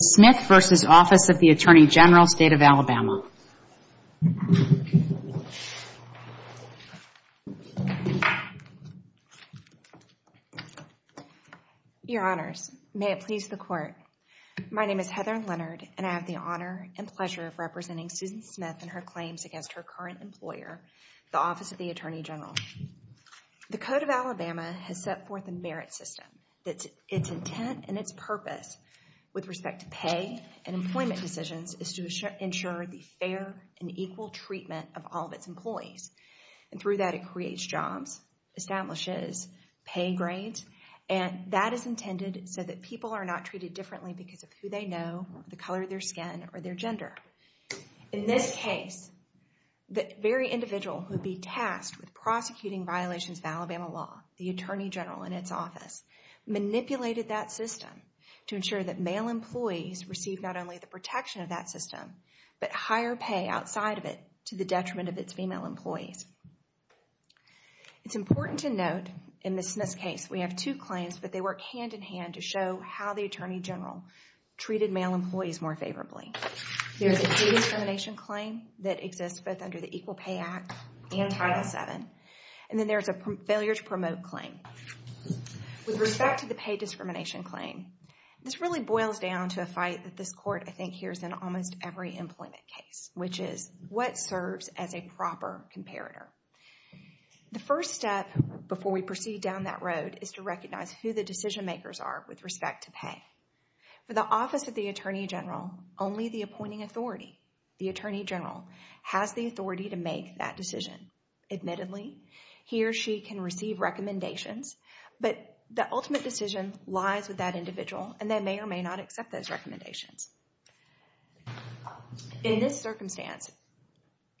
Smith v. Office of the Attorney General, State of Alabama Your Honors, may it please the Court. My name is Heather Leonard and I have the honor and pleasure of representing Susan Smith and her claims against her current employer, the Office of the Attorney General. The Code of Alabama has set forth a merit system, its intent and its purpose with respect to pay and employment decisions is to ensure the fair and equal treatment of all of its employees. And through that, it creates jobs, establishes pay grades, and that is intended so that people are not treated differently because of who they know, the color of their skin, or their gender. In this case, the very individual who would be tasked with prosecuting violations of Alabama law, the Attorney General in its office, manipulated that system to ensure that male employees receive not only the protection of that system, but higher pay outside of it to the detriment of its female employees. It's important to note, in Ms. Smith's case, we have two claims, but they work hand-in-hand to show how the Attorney General treated male employees more favorably. There is a pay discrimination claim that exists both under the Equal Pay Act and Title VII, and then there is a failure to promote claim. With respect to the pay discrimination claim, this really boils down to a fight that this court I think hears in almost every employment case, which is, what serves as a proper comparator? The first step before we proceed down that road is to recognize who the decision makers are with respect to pay. For the Office of the Attorney General, only the appointing authority, the Attorney General, has the authority to make that decision. Admittedly, he or she can receive recommendations, but the ultimate decision lies with that individual, and they may or may not accept those recommendations. In this circumstance,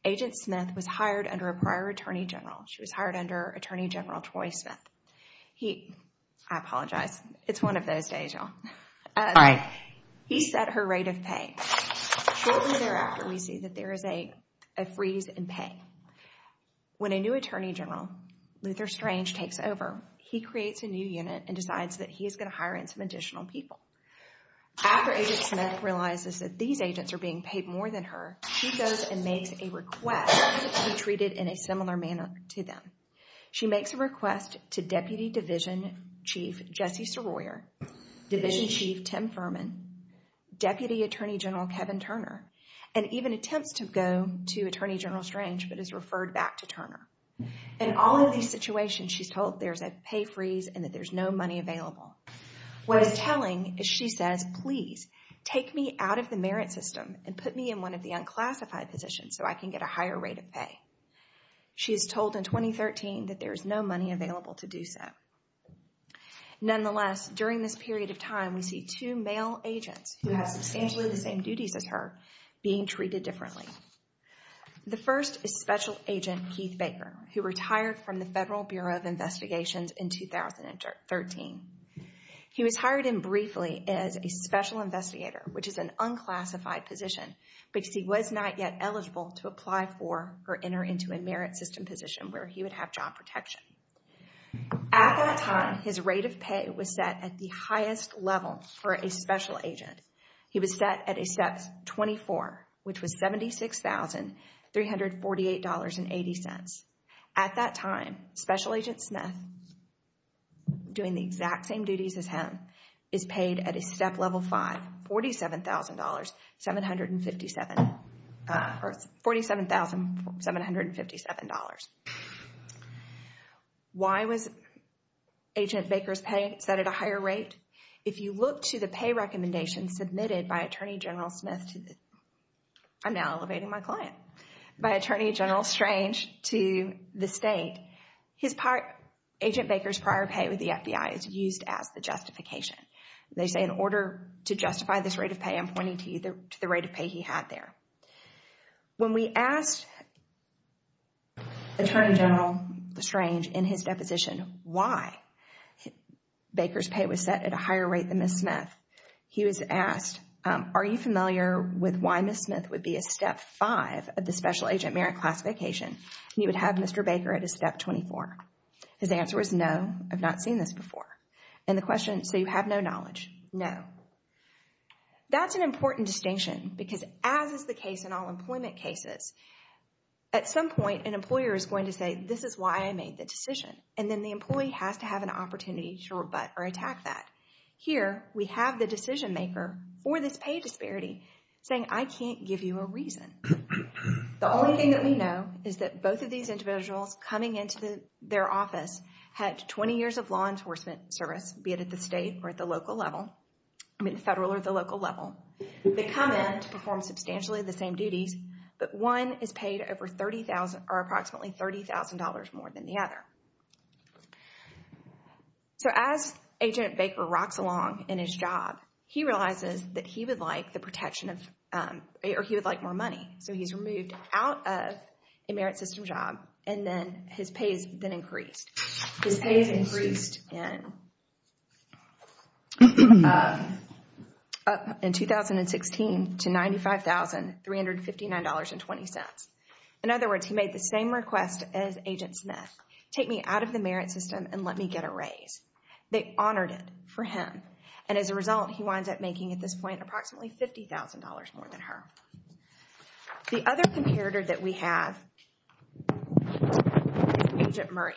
Agent Smith was hired under a prior Attorney General. She was hired under Attorney General Troy Smith. He, I apologize, it's one of those days, y'all. He set her rate of pay. Shortly thereafter, we see that there is a freeze in pay. When a new Attorney General, Luther Strange, takes over, he creates a new unit and decides that he is going to hire in some additional people. After Agent Smith realizes that these agents are being paid more than her, she goes and makes a request to be treated in a similar manner to them. She makes a request to Deputy Division Chief Jesse Soroyer, Division Chief Tim Furman, Deputy Attorney General Kevin Turner, and even attempts to go to Attorney General Strange, but is referred back to Turner. In all of these situations, she's told there's a pay freeze and that there's no money available. What it's telling is she says, please, take me out of the merit system and put me in one of the unclassified positions so I can get a higher rate of pay. She's told in 2013 that there's no money available to do so. Nonetheless, during this period of time, we see two male agents who have substantially the same duties as her being treated differently. The first is Special Agent Keith Baker, who retired from the Federal Bureau of Investigations in 2013. He was hired in briefly as a Special Investigator, which is an unclassified position, because he was not yet eligible to apply for or enter into a merit system position where he would have job protection. At that time, his rate of pay was set at the highest level for a Special Agent. He was set at a Step 24, which was $76,348.80. At that time, Special Agent Smith, doing the exact same duties as him, is paid at a Step Why was Agent Baker's pay set at a higher rate? If you look to the pay recommendations submitted by Attorney General Smith to the, I'm now elevating my client, by Attorney General Strange to the state, Agent Baker's prior pay with the FBI is used as the justification. They say in order to justify this rate of pay, I'm pointing to the rate of pay he had there. When we asked Attorney General Strange in his deposition why Baker's pay was set at a higher rate than Ms. Smith, he was asked, are you familiar with why Ms. Smith would be a Step 5 of the Special Agent merit classification, and you would have Mr. Baker at a Step 24? His answer was, no, I've not seen this before. And the question, so you have no knowledge? No. That's an important distinction because as is the case in all employment cases, at some point an employer is going to say, this is why I made the decision, and then the employee has to have an opportunity to rebut or attack that. Here we have the decision maker for this pay disparity saying, I can't give you a reason. The only thing that we know is that both of these individuals coming into their office had 20 years of law enforcement service, be it at the state or at the local level, I mean federal or the local level. They come in to perform substantially the same duties, but one is paid over $30,000 or approximately $30,000 more than the other. So as Agent Baker rocks along in his job, he realizes that he would like the protection of, or he would like more money. So he's removed out of a merit system job, and then his pay has been increased. His pay has increased in 2016 to $95,359.20. In other words, he made the same request as Agent Smith. Take me out of the merit system and let me get a raise. They honored it for him, and as a result, he winds up making at this point approximately $50,000 more than her. The other comparator that we have is Agent Murray.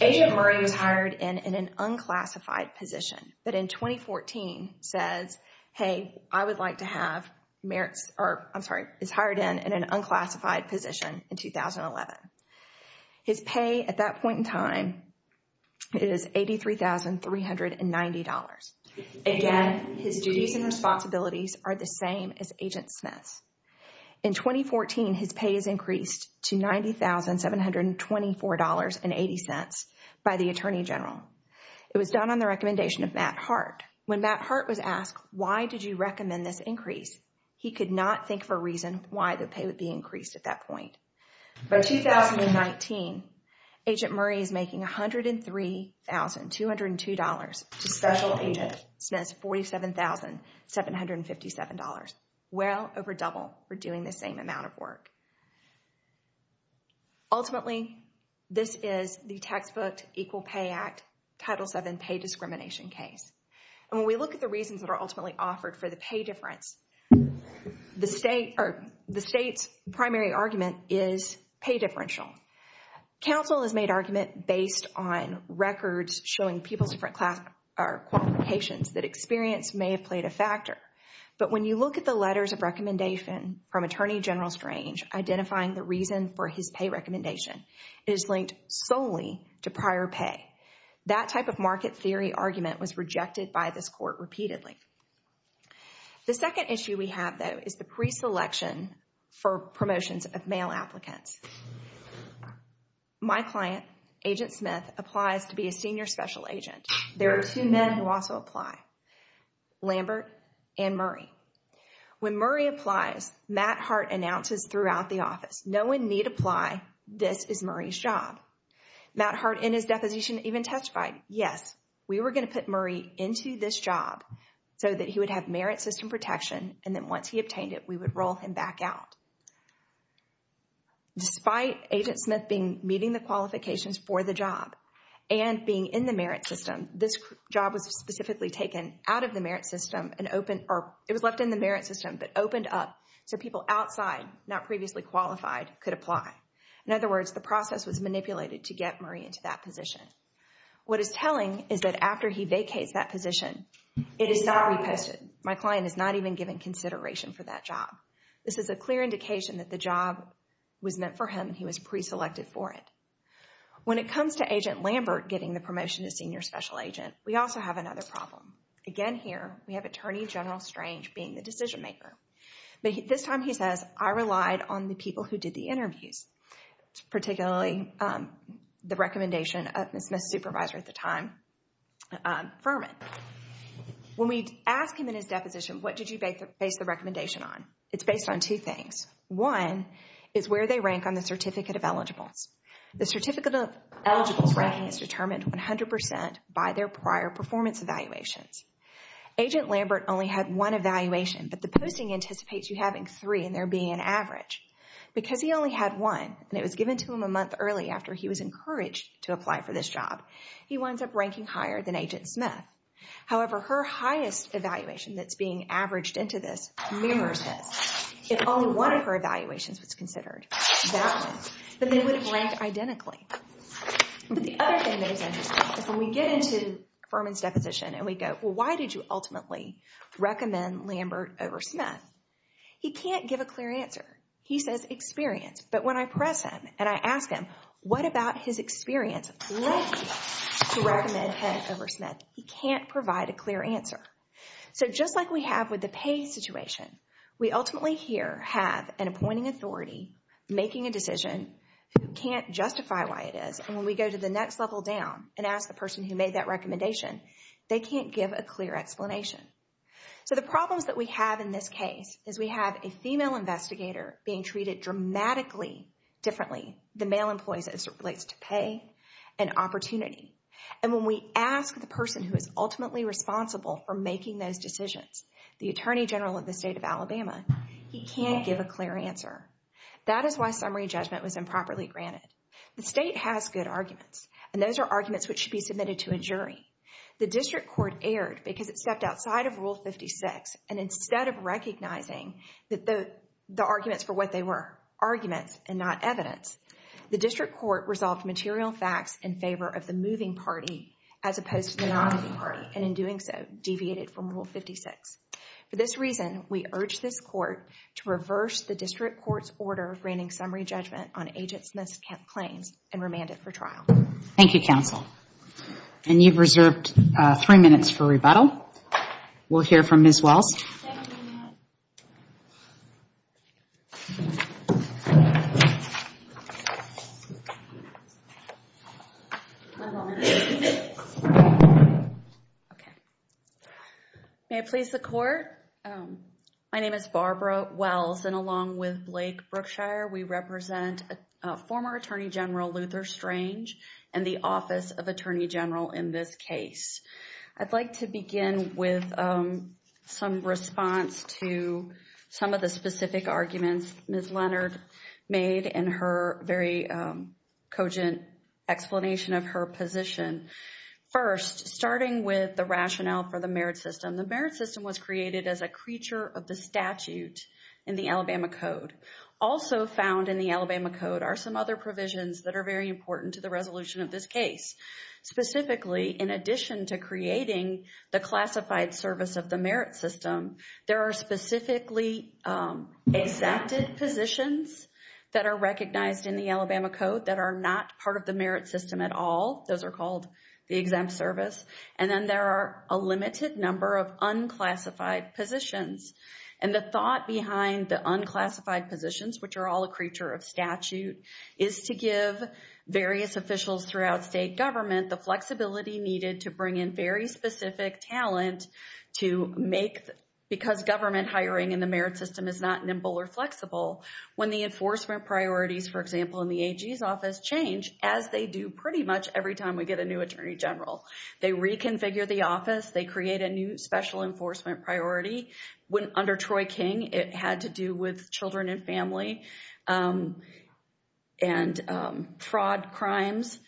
Agent Murray was hired in an unclassified position, but in 2014 says, hey, I would like to have merits, or I'm sorry, is hired in an unclassified position in 2011. His pay at that point in time is $83,390. Again, his duties and responsibilities are the same as Agent Smith's. In 2014, his pay is increased to $90,724.80 by the Attorney General. It was done on the recommendation of Matt Hart. When Matt Hart was asked, why did you recommend this increase? He could not think of a reason why the pay would be increased at that point. By 2019, Agent Murray is making $103,202 to Special Agent Smith's $47,757. Well over double for doing the same amount of work. Ultimately, this is the textbook Equal Pay Act Title VII pay discrimination case. And when we look at the reasons that are ultimately offered for the pay difference, the state's primary argument is pay differential. Counsel has made argument based on records showing people's different class or qualifications that experience may have played a factor. But when you look at the letters of recommendation from Attorney General Strange, identifying the reason for his pay recommendation is linked solely to prior pay. That type of market theory argument was rejected by this court repeatedly. The second issue we have though is the pre-selection for promotions of male applicants. My client, Agent Smith, applies to be a Senior Special Agent. There are two men who also apply, Lambert and Murray. When Murray applies, Matt Hart announces throughout the office, no one need apply, this is Murray's job. Matt Hart in his deposition even testified, yes, we were going to put Murray into this job so that he would have merit system protection and then once he obtained it, we would roll him back out. Despite Agent Smith being meeting the qualifications for the job and being in the merit system, this job was specifically taken out of the merit system and opened or it was left in the merit system but opened up so people outside, not previously qualified, could apply. In other words, the process was manipulated to get Murray into that position. What is telling is that after he vacates that position, it is not reposted. My client is not even given consideration for that job. This is a clear indication that the job was meant for him, he was pre-selected for it. When it comes to Agent Lambert getting the promotion to Senior Special Agent, we also have another problem. Again, here, we have Attorney General Strange being the decision maker. This time he says, I relied on the people who did the interviews, particularly the recommendation of Ms. Smith's supervisor at the time, Furman. When we ask him in his deposition, what did you base the recommendation on? It's based on two things. One is where they rank on the certificate of eligibles. The certificate of eligibles ranking is determined 100% by their prior performance evaluations. Agent Lambert only had one evaluation but the posting anticipates you having three and there being an average. Because he only had one and it was given to him a month early after he was encouraged to apply for this job, he winds up ranking higher than Agent Smith. However, her highest evaluation that's being averaged into this mirrors this. If only one of her evaluations was considered that one, then they would have ranked identically. But the other thing that is interesting is when we get into Furman's deposition and we go, well, why did you ultimately recommend Lambert over Smith? He can't give a clear answer. He says experience. But when I press him and I ask him, what about his experience likely to recommend him over Smith? He can't provide a clear answer. So just like we have with the pay situation, we ultimately here have an appointing authority making a decision who can't justify why it is and when we go to the next level down and ask the person who made that recommendation, they can't give a clear explanation. So the problems that we have in this case is we have a female investigator being treated dramatically differently than male employees as it relates to pay and opportunity. And when we ask the person who is ultimately responsible for making those decisions, the Attorney General of the state of Alabama, he can't give a clear answer. That is why summary judgment was improperly granted. The state has good arguments and those are arguments which should be submitted to a jury. The district court erred because it stepped outside of Rule 56 and instead of recognizing that the arguments for what they were arguments and not evidence, the district court resolved material facts in favor of the moving party as opposed to the non-moving party and in doing so deviated from Rule 56. For this reason, we urge this court to reverse the district court's order granting summary judgment on agent Smith's claims and remand it for trial. Thank you, counsel. And you've reserved three minutes for rebuttal. We'll hear from Ms. Wells. May I please the court? My name is Barbara Wells and along with Blake Brookshire, we represent former Attorney General Luther Strange and the Office of Attorney General in this case. I'd like to begin with some response to some of the specific arguments Ms. Leonard made in her very cogent explanation of her position. First, starting with the rationale for the merit system. The merit system was created as a creature of the statute in the Alabama Code. Also, found in the Alabama Code are some other provisions that are very important to the resolution of this case. Specifically, in addition to creating the classified service of the merit system, there are specifically exempted positions that are recognized in the Alabama Code that are not part of the merit system at all. Those are called the exempt service. And then there are a limited number of unclassified positions. And the thought behind the unclassified positions, which are all a creature of statute, is to give various officials throughout state government the flexibility needed to bring in very specific talent to make, because government hiring in the merit system is not nimble or flexible, when the enforcement priorities, for example, in the AG's office change, as they do pretty much every time we get a new Attorney General. They reconfigure the office. They create a new special enforcement priority. Under Troy King, it had to do with children and family and fraud crimes.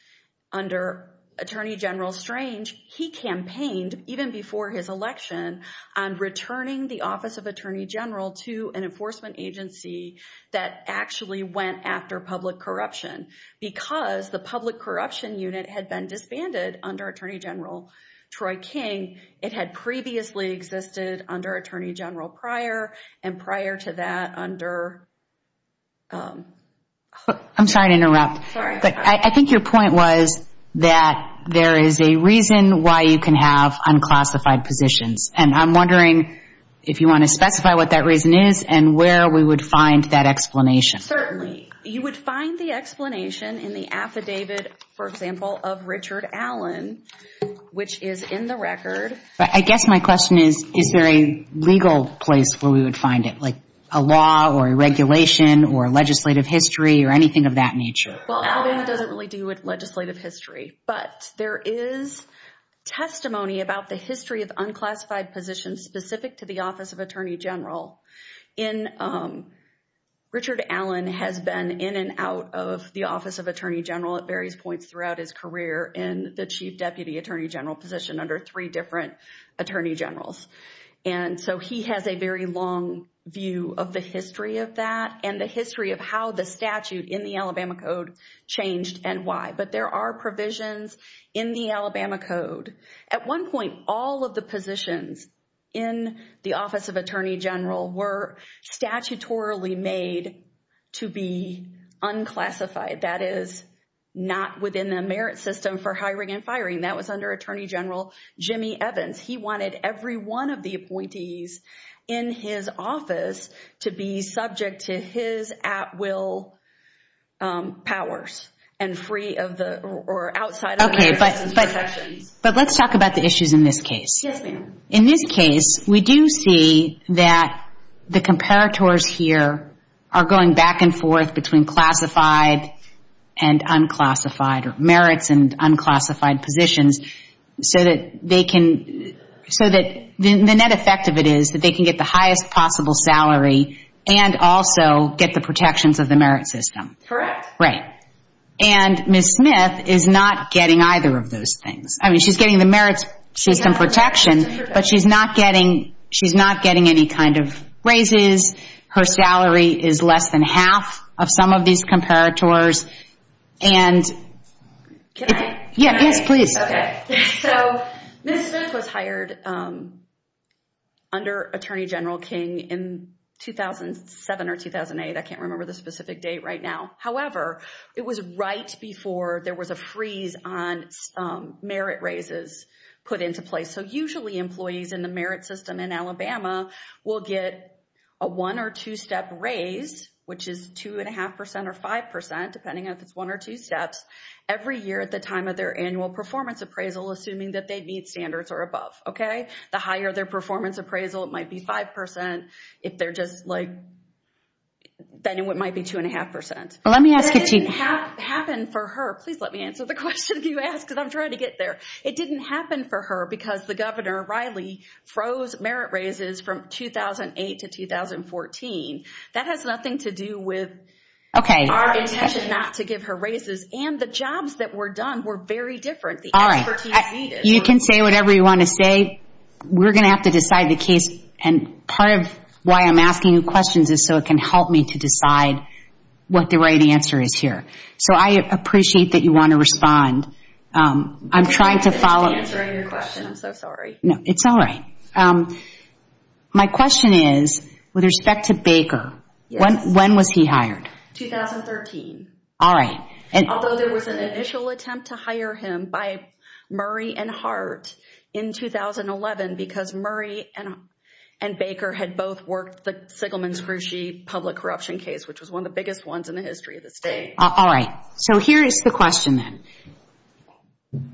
Under Attorney General Strange, he campaigned, even before his election, on returning the Office of Attorney General to an enforcement agency that actually went after public corruption because the public corruption unit had been disbanded under Attorney General Troy King. It had previously existed under Attorney General Pryor, and prior to that, under... I'm sorry to interrupt. Sorry. But I think your point was that there is a reason why you can have unclassified positions. And I'm wondering if you want to specify what that reason is and where we would find that explanation. Certainly. You would find the explanation in the affidavit, for example, of Richard Allen, which is in the record. But I guess my question is, is there a legal place where we would find it, like a law or a regulation or legislative history or anything of that nature? Well, it doesn't really deal with legislative history, but there is testimony about the history of unclassified positions specific to the Office of Attorney General. In... Richard Allen has been in and out of the Office of Attorney General at various points throughout his career in the Chief Deputy Attorney General position under three different Attorney Generals. And so he has a very long view of the history of that and the history of how the statute in the Alabama Code changed and why. But there are provisions in the Alabama Code. At one point, all of the positions in the Office of Attorney General were statutorily made to be unclassified. That is not within the merit system for hiring and firing. That was under Attorney General Jimmy Evans. He wanted every one of the appointees in his office to be subject to his at-will powers and free of the... or outside of the... Okay. ...merits and protections. But let's talk about the issues in this case. Yes, ma'am. In this case, we do see that the comparators here are going back and forth between classified and unclassified, or merits and unclassified positions, so that they can... so that the net effect of it is that they can get the highest possible salary and also get the protections of the merit system. Correct. Right. And Ms. Smith is not getting either of those things. I mean, she's getting the merits system protection, but she's not getting any kind of raises. Her salary is less than half of some of these comparators. And... Can I? Yes, please. Okay. So, Ms. Smith was hired under Attorney General King in 2007 or 2008, I can't remember the specific date right now. However, it was right before there was a freeze on merit raises put into place. So, usually employees in the merit system in Alabama will get a one or two step raise, which is two and a half percent or five percent, depending on if it's one or two steps, every year at the time of their annual performance appraisal, assuming that they meet standards or above. Okay? The higher their performance appraisal, it might be five percent. If they're just like, then it might be two and a half percent. Let me ask if she... That didn't happen for her. Please let me answer the question you asked because I'm trying to get there. It didn't happen for her because the governor, Riley, froze merit raises from 2008 to 2014. That has nothing to do with our intention not to give her raises and the jobs that were done were very different. The expertise needed. All right. You can say whatever you want to say. We're going to have to decide the case and part of why I'm asking you questions is so it can help me to decide what the right answer is here. So, I appreciate that you want to respond. I'm trying to follow... I'm sorry for answering your question. I'm so sorry. No, it's all right. My question is, with respect to Baker, when was he hired? 2013. All right. Although there was an initial attempt to hire him by Murray and Hart in 2011 because Murray and Baker had both worked the Sigelman-Skruchy public corruption case, which was one of the biggest ones in the history of the state. All right. So, here is the question then.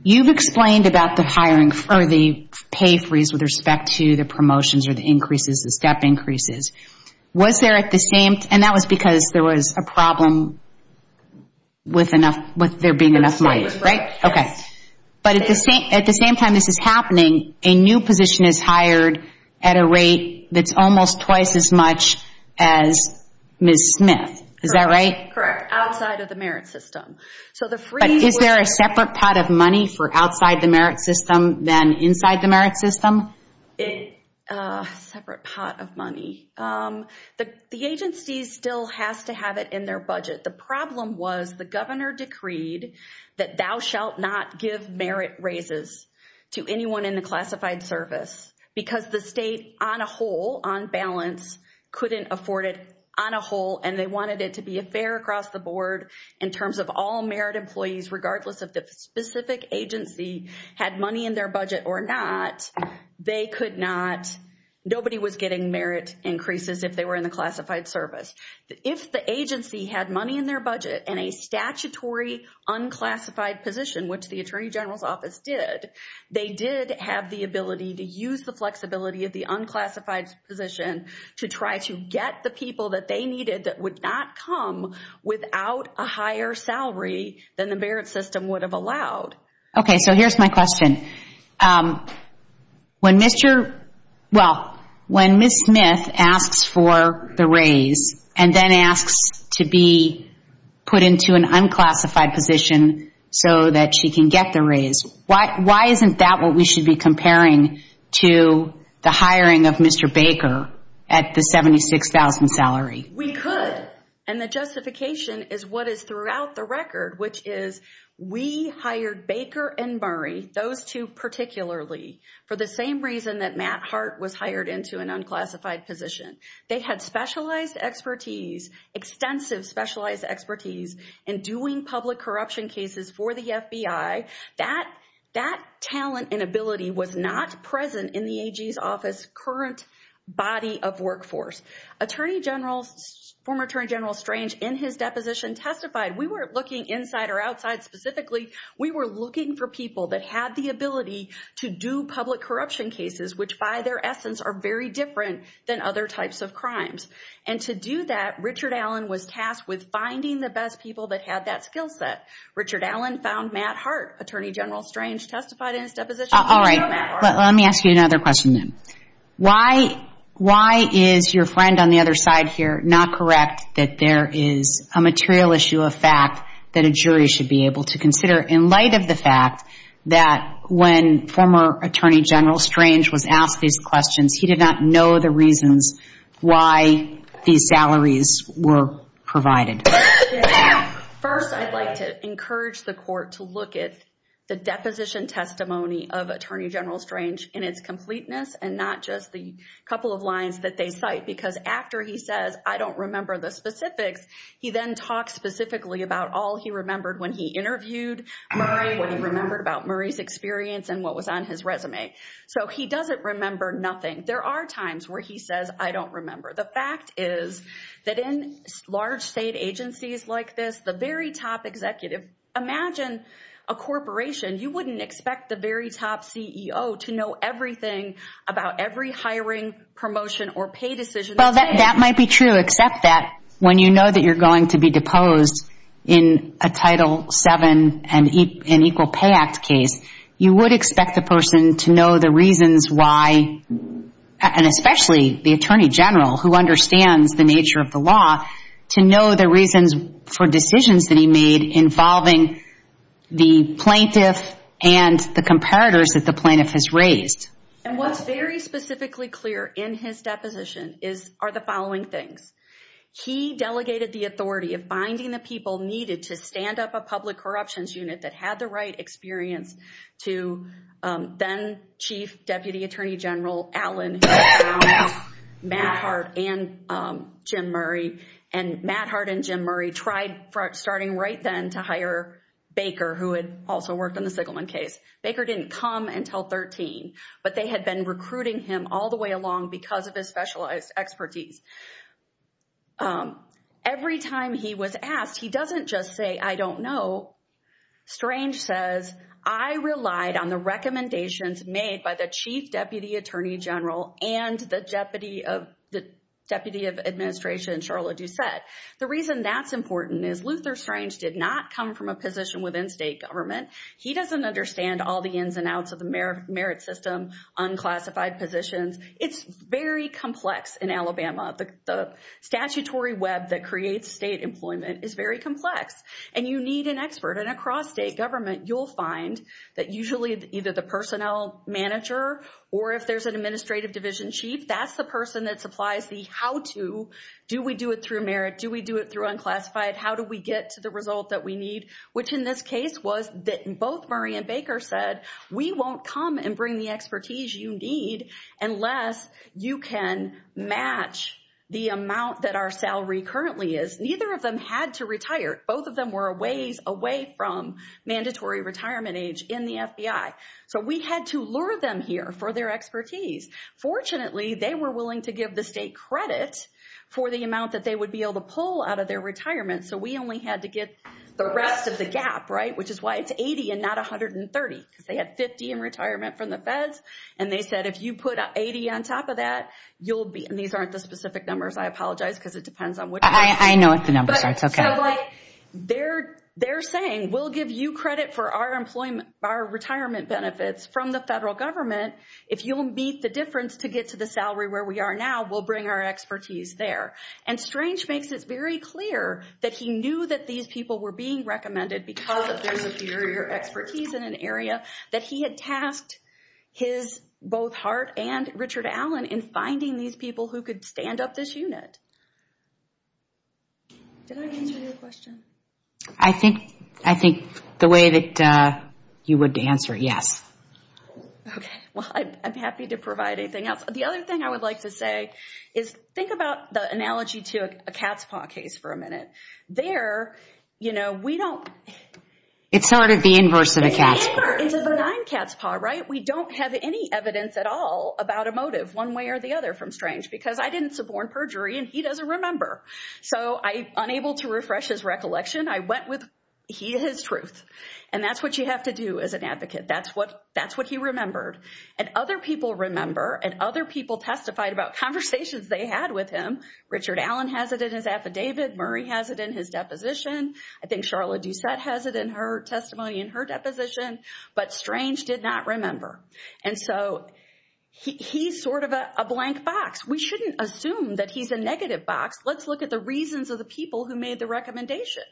You've explained about the hiring for the pay freeze with respect to the promotions or the increases, the step increases. Was there at the same... And that was because there was a problem with there being enough money, right? Yes. Okay. But at the same time this is happening, a new position is hired at a rate that's almost twice as much as Ms. Smith. Is that right? Correct. Outside of the merit system. So, the freeze... But is there a separate pot of money for outside the merit system than inside the merit system? A separate pot of money. The agency still has to have it in their budget. The problem was the governor decreed that thou shalt not give merit raises to anyone in the classified service because the state on a whole, on balance, couldn't afford it on a whole and they wanted it to be a fair across the board in terms of all merit employees regardless of the specific agency had money in their budget or not, they could not... Nobody was getting merit increases if they were in the classified service. If the agency had money in their budget and a statutory unclassified position, which the Attorney General's Office did, they did have the ability to use the flexibility of the unclassified position to try to get the people that they needed that would not come without a higher salary than the merit system would have allowed. Okay, so here's my question. When Mr., well, when Ms. Smith asks for the raise and then asks to be put into an unclassified position so that she can get the raise, why isn't that what we should be comparing to the hiring of Mr. Baker at the $76,000 salary? We could, and the justification is what is throughout the record, which is we hired Baker and Murray, those two particularly, for the same reason that Matt Hart was hired into an unclassified position. They had specialized expertise, extensive specialized expertise in doing public corruption cases for the FBI. That talent and ability was not present in the AG's office current body of workforce. Attorney General, former Attorney General Strange, in his deposition testified, we were looking inside or outside specifically, we were looking for people that had the ability to do public corruption cases, which by their essence are very different than other types of crimes. And to do that, Richard Allen was tasked with finding the best people that had that skill set. Richard Allen found Matt Hart. Attorney General Strange testified in his deposition that he knew Matt Hart. All right, but let me ask you another question then. Why is your friend on the other side here not correct that there is a material issue of fact that a jury should be able to consider in light of the fact that when former Attorney General Strange was asked these questions, he did not know the reasons why these salaries were provided? First, I'd like to encourage the court to look at the deposition testimony of Attorney General Strange, not just the couple of lines that they cite. Because after he says, I don't remember the specifics, he then talks specifically about all he remembered when he interviewed Murray, what he remembered about Murray's experience and what was on his resume. So he doesn't remember nothing. There are times where he says, I don't remember. The fact is that in large state agencies like this, the very top executive, imagine a corporation, you wouldn't expect the very top CEO to know everything about every hiring promotion or pay decision. Well, that might be true, except that when you know that you're going to be deposed in a Title VII and Equal Pay Act case, you would expect the person to know the reasons why, and especially the Attorney General who understands the nature of the law, to know the reasons for decisions that he made involving the plaintiff and the comparators that the plaintiff has raised. And what's very specifically clear in his deposition are the following things. He delegated the authority of finding the people needed to stand up a public corruptions unit that had the right experience to then Chief Deputy Attorney General Allen, who was then Jim Murray, and Matt Hart and Jim Murray tried, starting right then, to hire Baker, who had also worked on the Sigelman case. Baker didn't come until 13, but they had been recruiting him all the way along because of his specialized expertise. Every time he was asked, he doesn't just say, I don't know. Strange says, I relied on the recommendations made by the Chief Deputy Attorney General and the Deputy of Administration, Charlotte Doucette. The reason that's important is Luther Strange did not come from a position within state government. He doesn't understand all the ins and outs of the merit system, unclassified positions. It's very complex in Alabama. The statutory web that creates state employment is very complex. And you need an expert. And across state government, you'll find that usually either the personnel manager or if it's the division chief, that's the person that supplies the how-to. Do we do it through merit? Do we do it through unclassified? How do we get to the result that we need? Which in this case was that both Murray and Baker said, we won't come and bring the expertise you need unless you can match the amount that our salary currently is. Neither of them had to retire. Both of them were a ways away from mandatory retirement age in the FBI. So we had to lure them here for their expertise. Fortunately, they were willing to give the state credit for the amount that they would be able to pull out of their retirement. So we only had to get the rest of the gap, right? Which is why it's 80 and not 130. Because they had 50 in retirement from the feds. And they said, if you put 80 on top of that, you'll be... And these aren't the specific numbers. I apologize because it depends on what... I know what the numbers are, it's okay. They're saying, we'll give you credit for our retirement benefits from the federal government. If you'll meet the difference to get to the salary where we are now, we'll bring our expertise there. And Strange makes it very clear that he knew that these people were being recommended because of their superior expertise in an area that he had tasked his both heart and Richard Allen in finding these people who could stand up this unit. Did I answer your question? I think the way that you would answer, yes. Okay. Well, I'm happy to provide anything else. The other thing I would like to say is, think about the analogy to a cat's paw case for a minute. There, you know, we don't... It's sort of the inverse of a cat's paw. It's a benign cat's paw, right? We don't have any evidence at all about a motive one way or the other from Strange. Because I didn't suborn perjury and he doesn't remember. So I'm unable to refresh his recollection. I went with his truth. And that's what you have to do as an advocate. That's what he remembered. And other people remember and other people testified about conversations they had with him. Richard Allen has it in his affidavit. Murray has it in his deposition. I think Charlotte Doucette has it in her testimony in her deposition. But Strange did not remember. And so, he's sort of a blank box. We shouldn't assume that he's a negative box. Let's look at the reasons of the people who made the recommendation.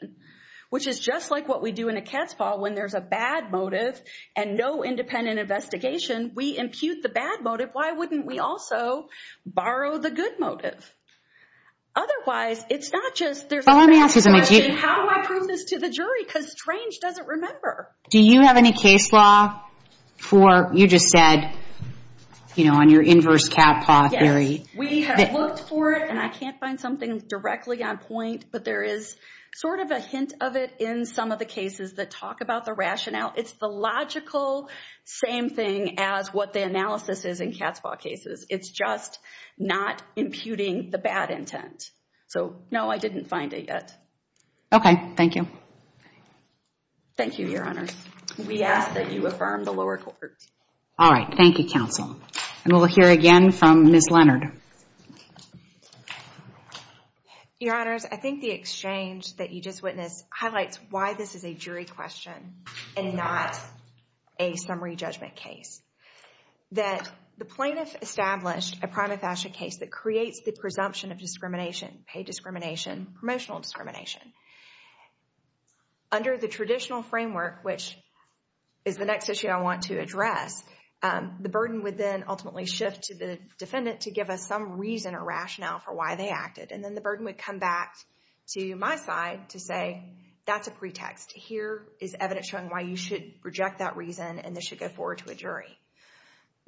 Which is just like what we do in a cat's paw when there's a bad motive and no independent investigation. We impute the bad motive. Why wouldn't we also borrow the good motive? Otherwise, it's not just there's a question, how do I prove this to the jury? Because Strange doesn't remember. Do you have any case law for, you just said, you know, on your inverse cat paw theory? We have looked for it and I can't find something directly on point. But there is sort of a hint of it in some of the cases that talk about the rationale. It's the logical same thing as what the analysis is in cat's paw cases. It's just not imputing the bad intent. So no, I didn't find it yet. Okay. Thank you. Thank you, Your Honors. We ask that you affirm the lower court. All right. Thank you, Counsel. And we'll hear again from Ms. Leonard. Your Honors, I think the exchange that you just witnessed highlights why this is a jury question and not a summary judgment case. That the plaintiff established a prima facie case that creates the presumption of discrimination, pay discrimination, promotional discrimination. Under the traditional framework, which is the next issue I want to address, the burden would then ultimately shift to the defendant to give us some reason or rationale for why they acted. And then the burden would come back to my side to say, that's a pretext. Here is evidence showing why you should reject that reason and this should go forward to a jury.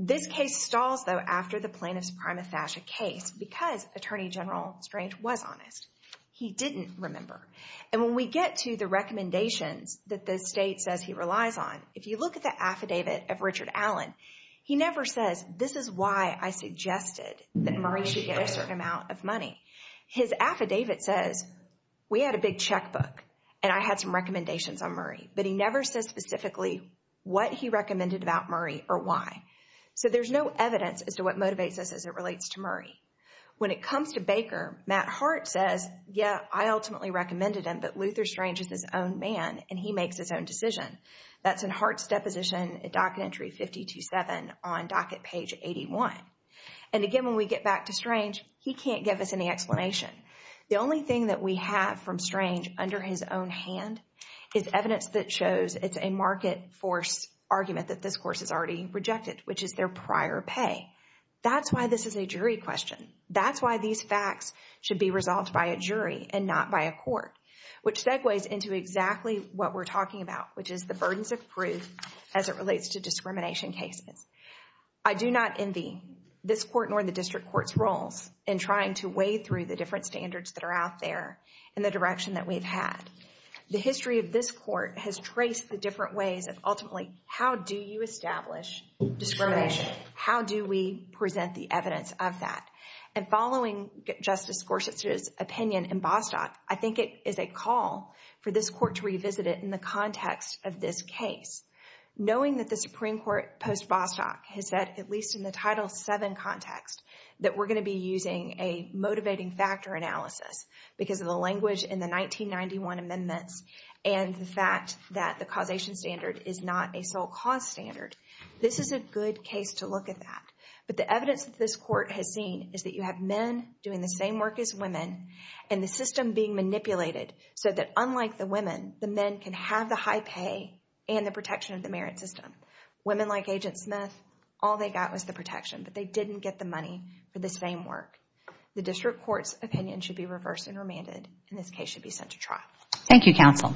This case stalls, though, after the plaintiff's prima facie case because Attorney General Strange was honest. He didn't remember. And when we get to the recommendations that the state says he relies on, if you look at the affidavit of Richard Allen, he never says, this is why I suggested that Murray should get a certain amount of money. His affidavit says, we had a big checkbook and I had some recommendations on Murray. But he never says specifically what he recommended about Murray or why. So there's no evidence as to what motivates us as it relates to Murray. When it comes to Baker, Matt Hart says, yeah, I ultimately recommended him, but Luther Strange is his own man and he makes his own decision. That's in Hart's deposition, docket entry 527 on docket page 81. And again, when we get back to Strange, he can't give us any explanation. The only thing that we have from Strange under his own hand is evidence that shows it's a market force argument that this court has already rejected, which is their prior pay. That's why this is a jury question. That's why these facts should be resolved by a jury and not by a court, which segues into exactly what we're talking about, which is the burdens of proof as it relates to discrimination cases. I do not envy this court nor the district court's roles in trying to weigh through the different standards that are out there in the direction that we've had. The history of this court has traced the different ways of ultimately, how do you establish discrimination? How do we present the evidence of that? And following Justice Gorsuch's opinion in Bostock, I think it is a call for this court to revisit it in the context of this case. Knowing that the Supreme Court post-Bostock has said, at least in the Title VII context, that we're going to be using a motivating factor analysis because of the language in the 1991 amendments and the fact that the causation standard is not a sole cause standard. This is a good case to look at that. But the evidence that this court has seen is that you have men doing the same work as women and the system being manipulated so that unlike the women, the men can have the high pay and the protection of the merit system. Women like Agent Smith, all they got was the protection, but they didn't get the money for the same work. The district court's opinion should be reversed and remanded and this case should be sent to trial. Thank you, counsel. The Court is adjourned.